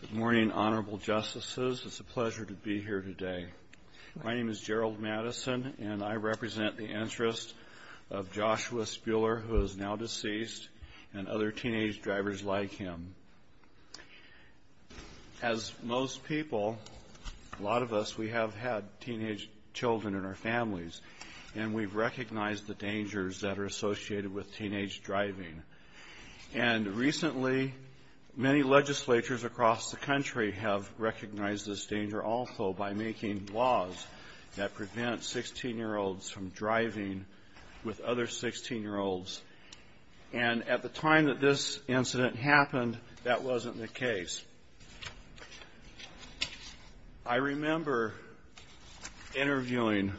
Good morning, Honorable Justices. It's a pleasure to be here today. My name is Gerald Madison and I represent the interests of Joshua Spuehler, who is now deceased, and other teenage drivers like him. As most people, a lot of us, we have had teenage children in our families and we've recognized the dangers that are associated with teenage driving. And recently, many legislatures across the country have recognized this danger also by making laws that prevent 16-year-olds from driving with other 16-year-olds. And at the time that this incident happened, that wasn't the case. I remember interviewing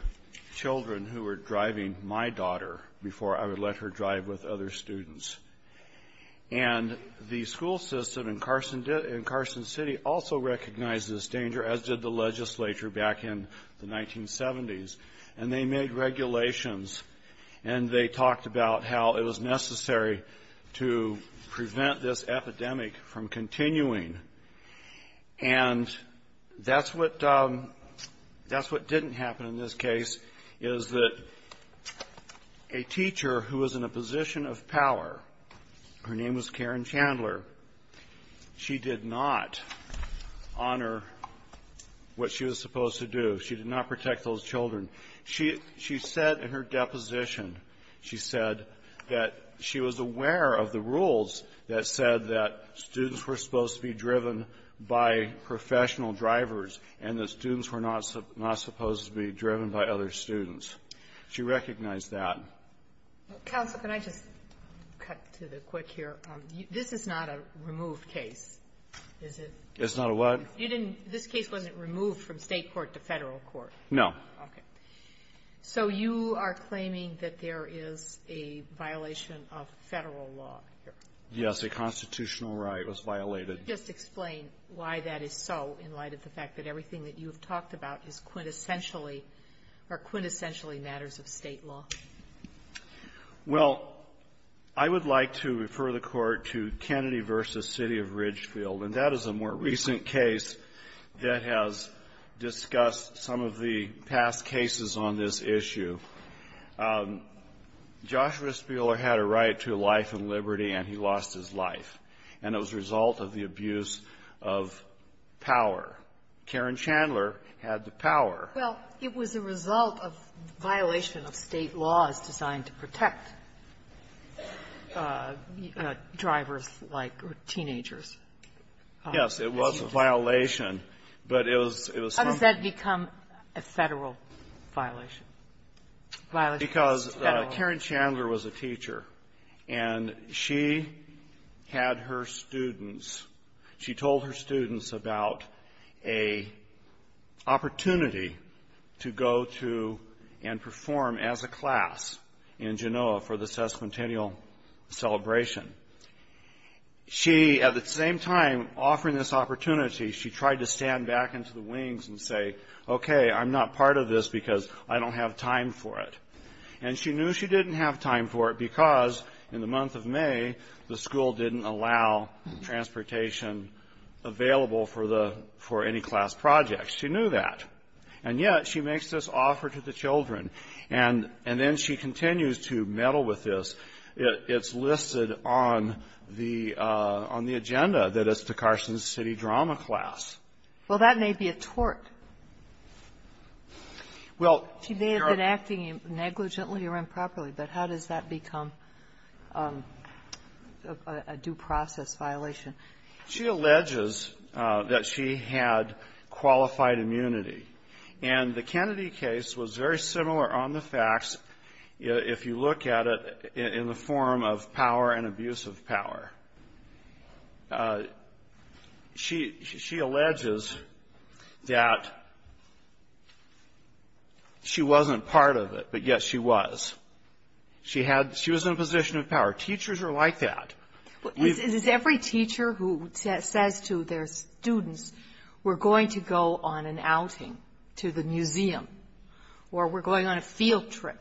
children who were driving my daughter before I would let her drive with other students. And the school system in Carson City also recognized this danger, as did the legislature back in the 1970s. And they made regulations and they talked about how it was necessary to prevent this epidemic from continuing. And that's what didn't happen in this case, is that a teacher who was in a position of power, her name was Karen Chandler, she did not honor what she was supposed to do. She did not protect those children. She said in her deposition, she said that she was aware of the rules that said that students were supposed to be driven by professional drivers and that students were not supposed to be driven by other students. She recognized that. Kagan. Counsel, can I just cut to the quick here? This is not a removed case, is it? It's not a what? You didn't, this case wasn't removed from State court to Federal court? No. Okay. So you are claiming that there is a violation of Federal law here? Yes, a constitutional right was violated. Can you just explain why that is so, in light of the fact that everything that you have talked about is quintessentially or quintessentially matters of State law? Well, I would like to refer the Court to Kennedy v. City of Ridgefield, and that is a more recent case that has discussed some of the past cases on this issue. Joshua Spieler had a right to life and liberty, and he lost his life, and it was a result of the abuse of power. Karen Chandler had the power. Well, it was a result of violation of State laws designed to protect drivers like or teenagers. Yes. It was a violation, but it was some of the ---- Because Karen Chandler was a teacher, and she had her students, she told her students about a opportunity to go to and perform as a class in Genoa for the sesquicentennial celebration. She, at the same time offering this opportunity, she tried to stand back into the wings and say, okay, I'm not part of this because I don't have time for it. And she knew she didn't have time for it because, in the month of May, the school didn't allow transportation available for the ---- for any class project. She knew that. And yet she makes this offer to the children, and then she continues to meddle with this. It's listed on the agenda that it's the Carson City drama class. Well, that may be a tort. Well, you're ---- She may have been acting negligently or improperly, but how does that become a due process violation? She alleges that she had qualified immunity. And the Kennedy case was very similar on the facts if you look at it in the form of power and abuse of power. She alleges that she wasn't part of it, but yet she was. She had ---- she was in a position of power. Teachers are like that. Is every teacher who says to their students, we're going to go on an outing to the museum, or we're going on a field trip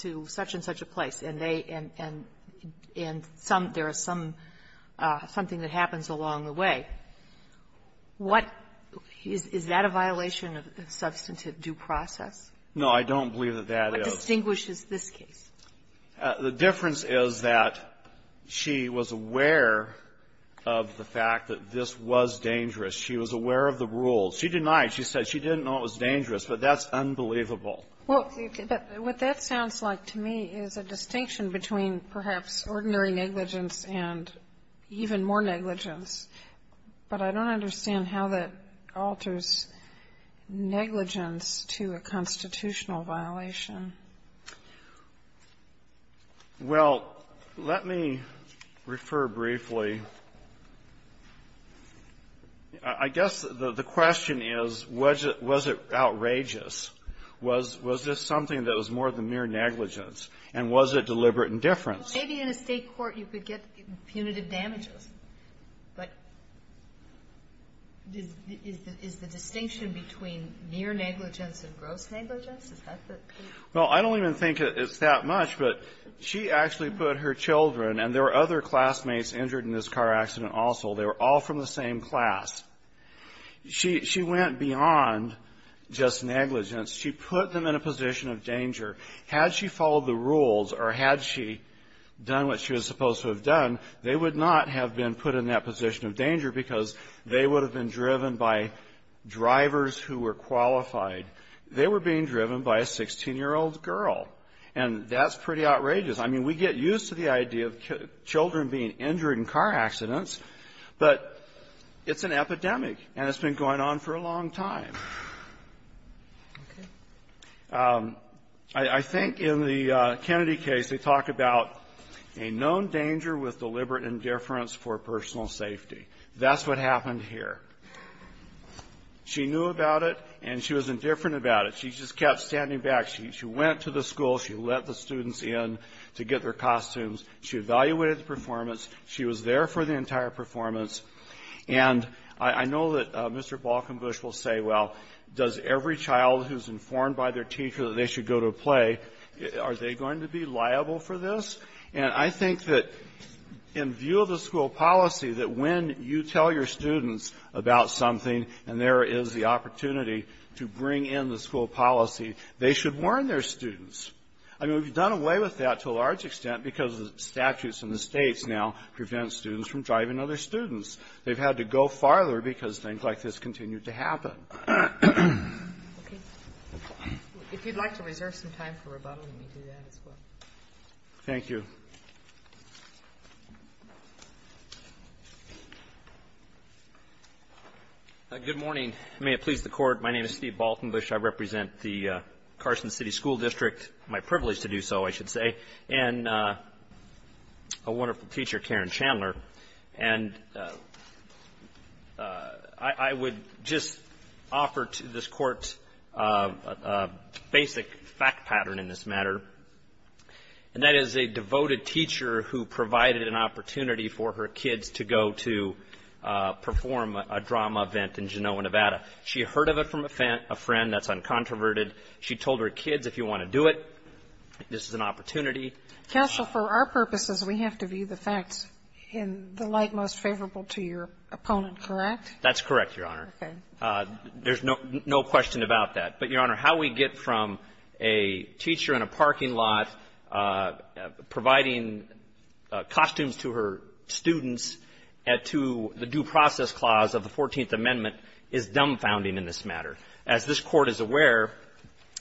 to such-and-such a place, and they ---- and some ---- there is some ---- something that happens along the way, what ---- is that a violation of substantive due process? No, I don't believe that that is. What distinguishes this case? The difference is that she was aware of the fact that this was dangerous. She was aware of the rules. She denied. She said she didn't know it was dangerous, but that's unbelievable. Well, what that sounds like to me is a distinction between perhaps ordinary negligence and even more negligence. But I don't understand how that alters negligence to a constitutional violation. Well, let me refer briefly. I guess the question is, was it outrageous? Was this something that was more than mere negligence? And was it deliberate indifference? Maybe in a State court you could get punitive damages. But is the distinction between mere negligence and gross negligence? Well, I don't even think it's that much, but she actually put her children ---- and there were other classmates injured in this car accident also. They were all from the same class. She went beyond just negligence. She put them in a position of danger. Had she followed the rules or had she done what she was supposed to have done, they would not have been put in that position of danger because they would have been driven by drivers who were qualified. They were being driven by a 16-year-old girl. And that's pretty outrageous. I mean, we get used to the idea of children being injured in car accidents, but it's an epidemic, and it's been going on for a long time. I think in the Kennedy case, they talk about a known danger with deliberate indifference for personal safety. That's what happened here. She knew about it, and she was indifferent about it. She just kept standing back. She went to the school. She let the students in to get their costumes. She evaluated the performance. She was there for the entire performance. And I know that Mr. Balkenbush will say, well, does every child who's informed by their teacher that they should go to a play, are they going to be liable for this? And I think that in view of the school policy, that when you tell your students about something and there is the opportunity to bring in the school policy, they should warn their students. I mean, we've done away with that to a large extent because the statutes in the States now prevent students from driving other students. They've had to go farther because things like this continue to happen. If you'd like to reserve some time for rebuttal, we can do that as well. Thank you. Good morning. May it please the Court. My name is Steve Balkenbush. I represent the Carson City School District. My privilege to do so, I should say. And a wonderful teacher, Karen Chandler. And I would just offer to this Court a basic fact pattern in this matter, and that is a devoted teacher who provided an opportunity for her kids to go to perform a drama event in Genoa, Nevada. She heard of it from a friend that's uncontroverted. She told her kids, if you want to do it, this is an opportunity. Counsel, for our purposes, we have to view the facts in the light most favorable to your opponent, correct? That's correct, Your Honor. There's no question about that. But, Your Honor, how we get from a teacher in a parking lot providing costumes to her students to the due process clause of the Fourteenth Amendment is dumbfounding in this matter. As this Court is aware,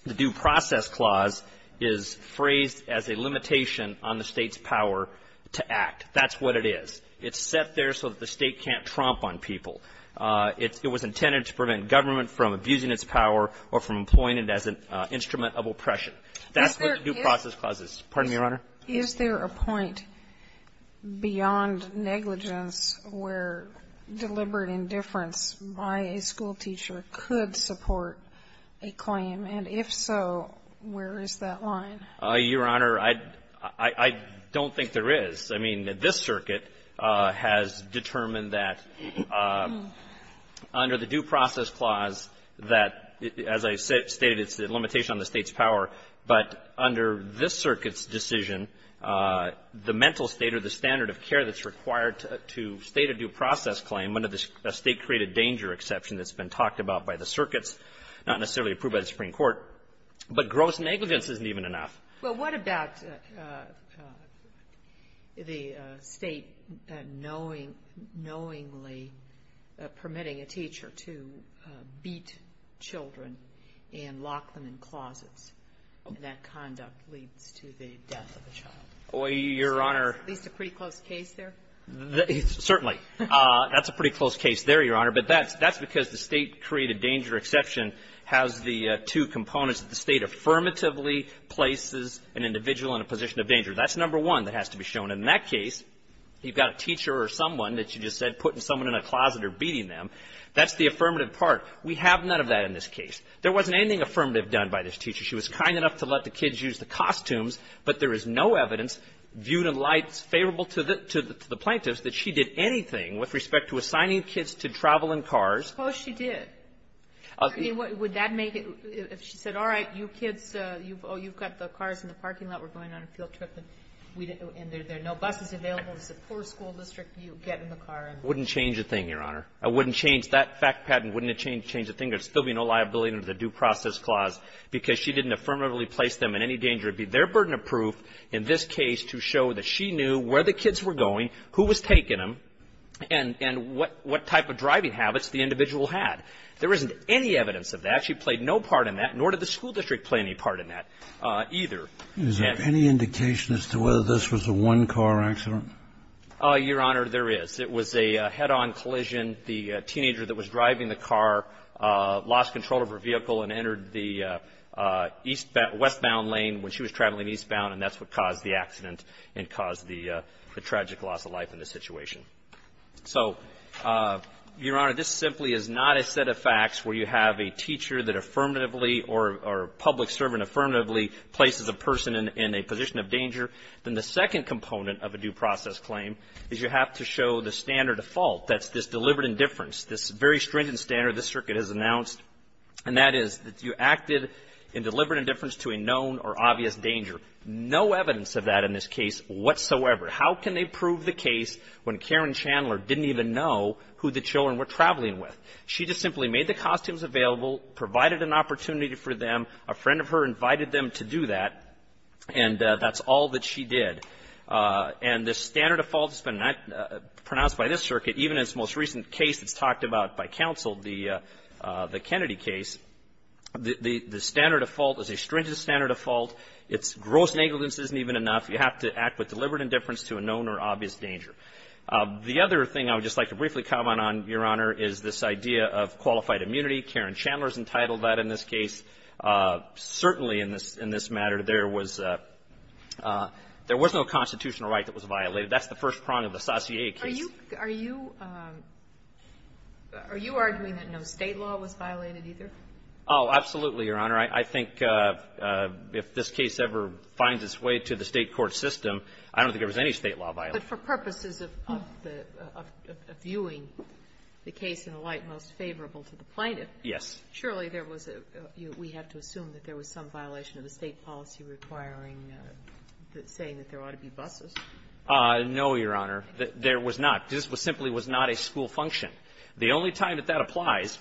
the due process clause is phrased as a limitation on the State's power to act. That's what it is. It's set there so that the State can't tromp on people. It was intended to prevent government from abusing its power or from employing it as an instrument of oppression. That's what the due process clause is. Pardon me, Your Honor. Is there a point beyond negligence where deliberate indifference by a schoolteacher could support a claim? And if so, where is that line? Your Honor, I don't think there is. I mean, this circuit has determined that under the due process clause that, as I stated, it's a limitation on the State's power, but under this circuit's decision, the mental state or the standard of care that's required to state a due process claim under the State-created danger exception that's been talked about by the circuits, not necessarily approved by the Supreme Court. But gross negligence isn't even enough. Well, what about the State knowingly permitting a teacher to beat children and lock them in closets, and that conduct leads to the death of the child? Your Honor. Is that at least a pretty close case there? Certainly. That's a pretty close case there, Your Honor. But that's because the State-created danger exception has the two components that the State affirmatively places an individual in a position of danger. That's number one that has to be shown. And in that case, you've got a teacher or someone that you just said putting someone in a closet or beating them. That's the affirmative part. We have none of that in this case. There wasn't anything affirmative done by this teacher. She was kind enough to let the kids use the costumes, but there is no evidence viewed in light favorable to the plaintiffs that she did anything with respect to assigning kids to travel in cars. Oh, she did. I mean, would that make it if she said, all right, you kids, you've got the cars in the parking lot. We're going on a field trip, and there are no buses available. It's a poor school district. You get in the car. It wouldn't change a thing, Your Honor. It wouldn't change that fact patent. It wouldn't change a thing. There would still be no liability under the Due Process Clause because she didn't affirmatively place them in any danger of being their burden of proof. In this case, to show that she knew where the kids were going, who was taking them, and what type of driving habits the individual had. There isn't any evidence of that. She played no part in that, nor did the school district play any part in that either. Is there any indication as to whether this was a one-car accident? Your Honor, there is. It was a head-on collision. The teenager that was driving the car lost control of her vehicle and entered the westbound lane when she was traveling eastbound, and that's what caused the accident and caused the tragic loss of life in this situation. So, Your Honor, this simply is not a set of facts where you have a teacher that affirmatively or public servant affirmatively places a person in a position of danger. Then the second component of a due process claim is you have to show the standard of fault that's this deliberate indifference, this very stringent standard this Circuit has announced. And that is that you acted in deliberate indifference to a known or obvious danger. No evidence of that in this case whatsoever. How can they prove the case when Karen Chandler didn't even know who the children were traveling with? She just simply made the costumes available, provided an opportunity for them. A friend of her invited them to do that, and that's all that she did. And the standard of fault has been pronounced by this Circuit, even in its most recent case that's talked about by counsel, the Kennedy case. The standard of fault is a stringent standard of fault. Its gross negligence isn't even enough. You have to act with deliberate indifference to a known or obvious danger. The other thing I would just like to briefly comment on, Your Honor, is this idea of qualified immunity. Karen Chandler's entitled that in this case. Certainly in this matter, there was no constitutional right that was violated. That's the first prong of the Saussure case. Are you arguing that no State law was violated either? Oh, absolutely, Your Honor. I think if this case ever finds its way to the State court system, I don't think there was any State law violated. But for purposes of viewing the case in a light most favorable to the plaintiff. Yes. Surely there was a – we have to assume that there was some violation of the State policy requiring – saying that there ought to be buses. No, Your Honor. There was not. This simply was not a school function. The only time that that applies,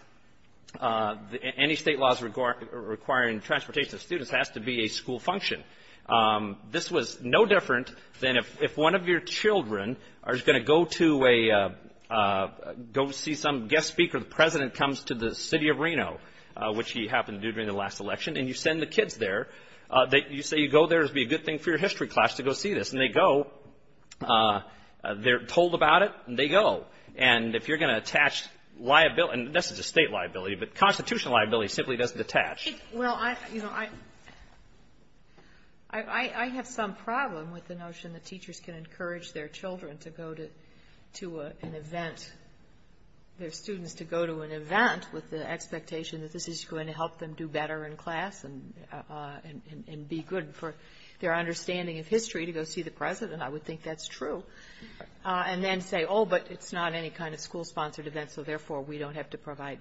any State laws requiring transportation of students has to be a school function. This was no different than if one of your children is going to go to a – go see some guest speaker. The President comes to the City of Reno, which he happened to do during the last election, and you send the kids there. You say you go there. It would be a good thing for your history class to go see this. And they go. They're told about it, and they go. And if you're going to attach liability – and this is a State liability, but constitutional liability simply doesn't attach. Well, I – you know, I have some problem with the notion that teachers can encourage their children to go to an event, their students to go to an event with the expectation that this is going to help them do better in class and be good for their understanding of history to go see the President. I would think that's true. And then say, oh, but it's not any kind of school-sponsored event, so therefore we don't have to provide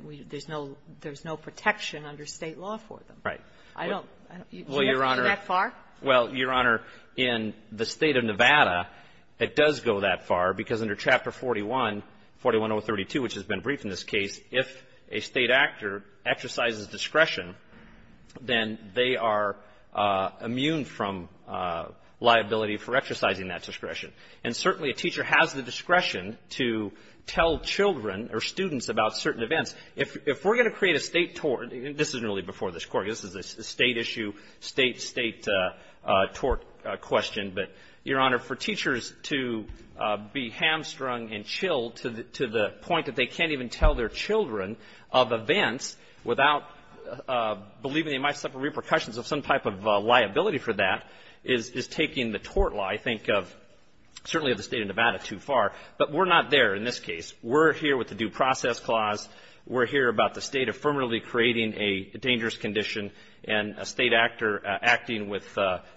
– there's no protection under State law for them. Right. I don't – Well, Your Honor – Do you have to go that far? Well, Your Honor, in the State of Nevada, it does go that far because under Chapter 41, 41032, which has been briefed in this case, if a State actor exercises discretion, then they are immune from liability for exercising that discretion. And certainly a teacher has the discretion to tell children or students about certain events. If we're going to create a State tort – this is really before this Court. This is a State issue, State tort question. But, Your Honor, for teachers to be hamstrung and chilled to the point that they can't even tell their children of events without believing they might suffer repercussions of some type of liability for that is taking the tort law, I think, of – certainly of the State of Nevada too far. But we're not there in this case. We're here with the Due Process Clause. We're here about the State affirmatively creating a dangerous condition and a State actor acting with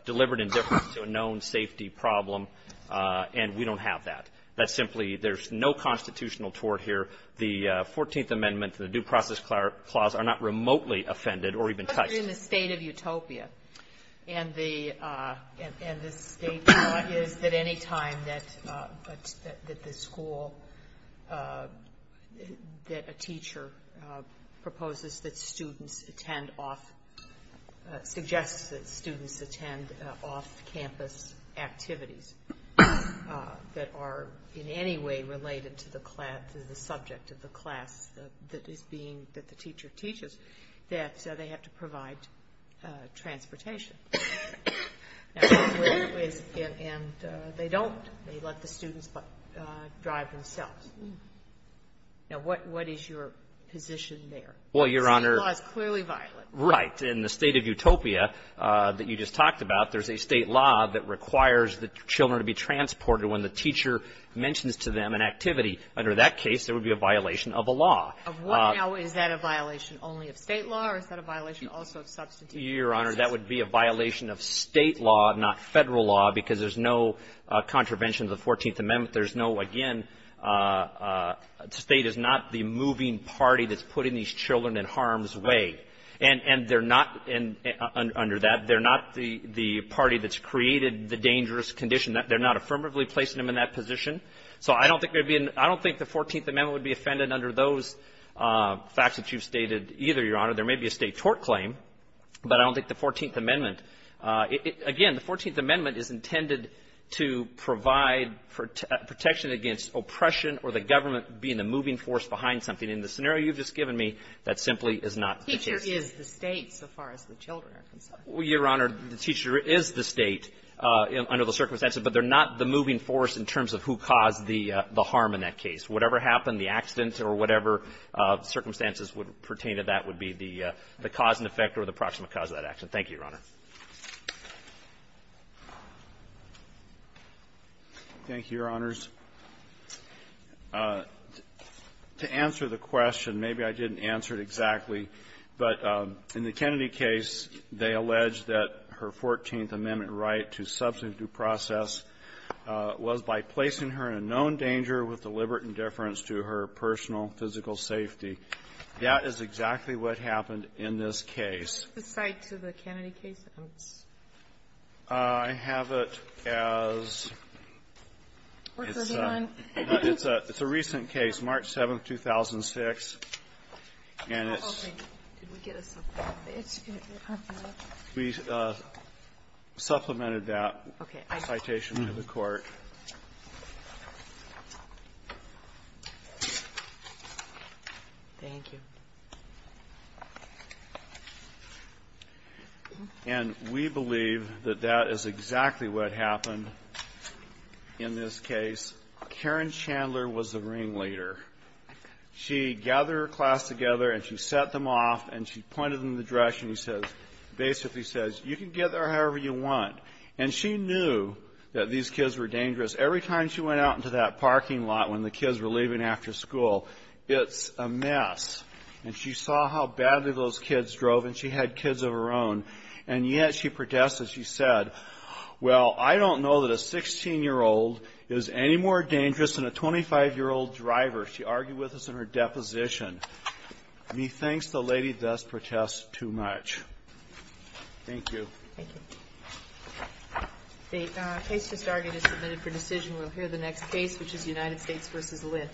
deliberate indifference to a known safety problem, and we don't have that. That's simply – there's no constitutional tort here. The Fourteenth Amendment, the Due Process Clause, are not remotely offended or even touched. But they're in the State of Utopia, and the State tort is that any time that the school – that a teacher proposes that students attend off – suggests that students attend off-campus activities that are in any way related to the class – to the subject of the class that is being – that the teacher teaches, that they have to provide transportation. And they don't. They let the students drive themselves. Now, what is your position there? Well, Your Honor – State law is clearly violent. Right. In the State of Utopia that you just talked about, there's a State law that requires the children to be transported when the teacher mentions to them an activity. Under that case, there would be a violation of a law. Now, is that a violation only of State law, or is that a violation also of substantive – Your Honor, that would be a violation of State law, not Federal law, because there's no contravention of the Fourteenth Amendment. There's no – again, State is not the And they're not – under that, they're not the party that's created the dangerous condition. They're not affirmatively placing them in that position. So I don't think there would be – I don't think the Fourteenth Amendment would be offended under those facts that you've stated either, Your Honor. There may be a State tort claim, but I don't think the Fourteenth Amendment – again, the Fourteenth Amendment is intended to provide protection against oppression or the government being the moving force behind something. In the scenario you've just given me, that simply is not the case. The teacher is the State, so far as the children are concerned. Well, Your Honor, the teacher is the State under the circumstances, but they're not the moving force in terms of who caused the harm in that case. Whatever happened, the accident or whatever circumstances would pertain to that would be the cause and effect or the proximate cause of that action. Thank you, Your Honor. Thank you, Your Honors. To answer the question, maybe I didn't answer it exactly, but in the Kennedy case, they allege that her Fourteenth Amendment right to substantive process was by placing her in a known danger with deliberate indifference to her personal physical safety. That is exactly what happened in this case. Can you cite to the Kennedy case? I have it as – it's a – it's a recent case, March 7th, 2006, and it's – we believe that that is exactly what happened in this case. Karen Chandler was the ring leader. She gathered her class together, and she set them off, and she pointed them in the direction and basically says, you can get there however you want. And she knew that these kids were dangerous. Every time she went out into that parking lot when the kids were leaving after school, it's a mess. And she saw how badly those kids drove, and she had kids of her own. And yet she protested. She said, well, I don't know that a 16-year-old is any more dangerous than a 25-year-old driver. She argued with us in her deposition. And he thinks the lady does protest too much. Thank you. Thank you. The case has already been submitted for decision. We'll hear the next case, which is United States v. Lynn.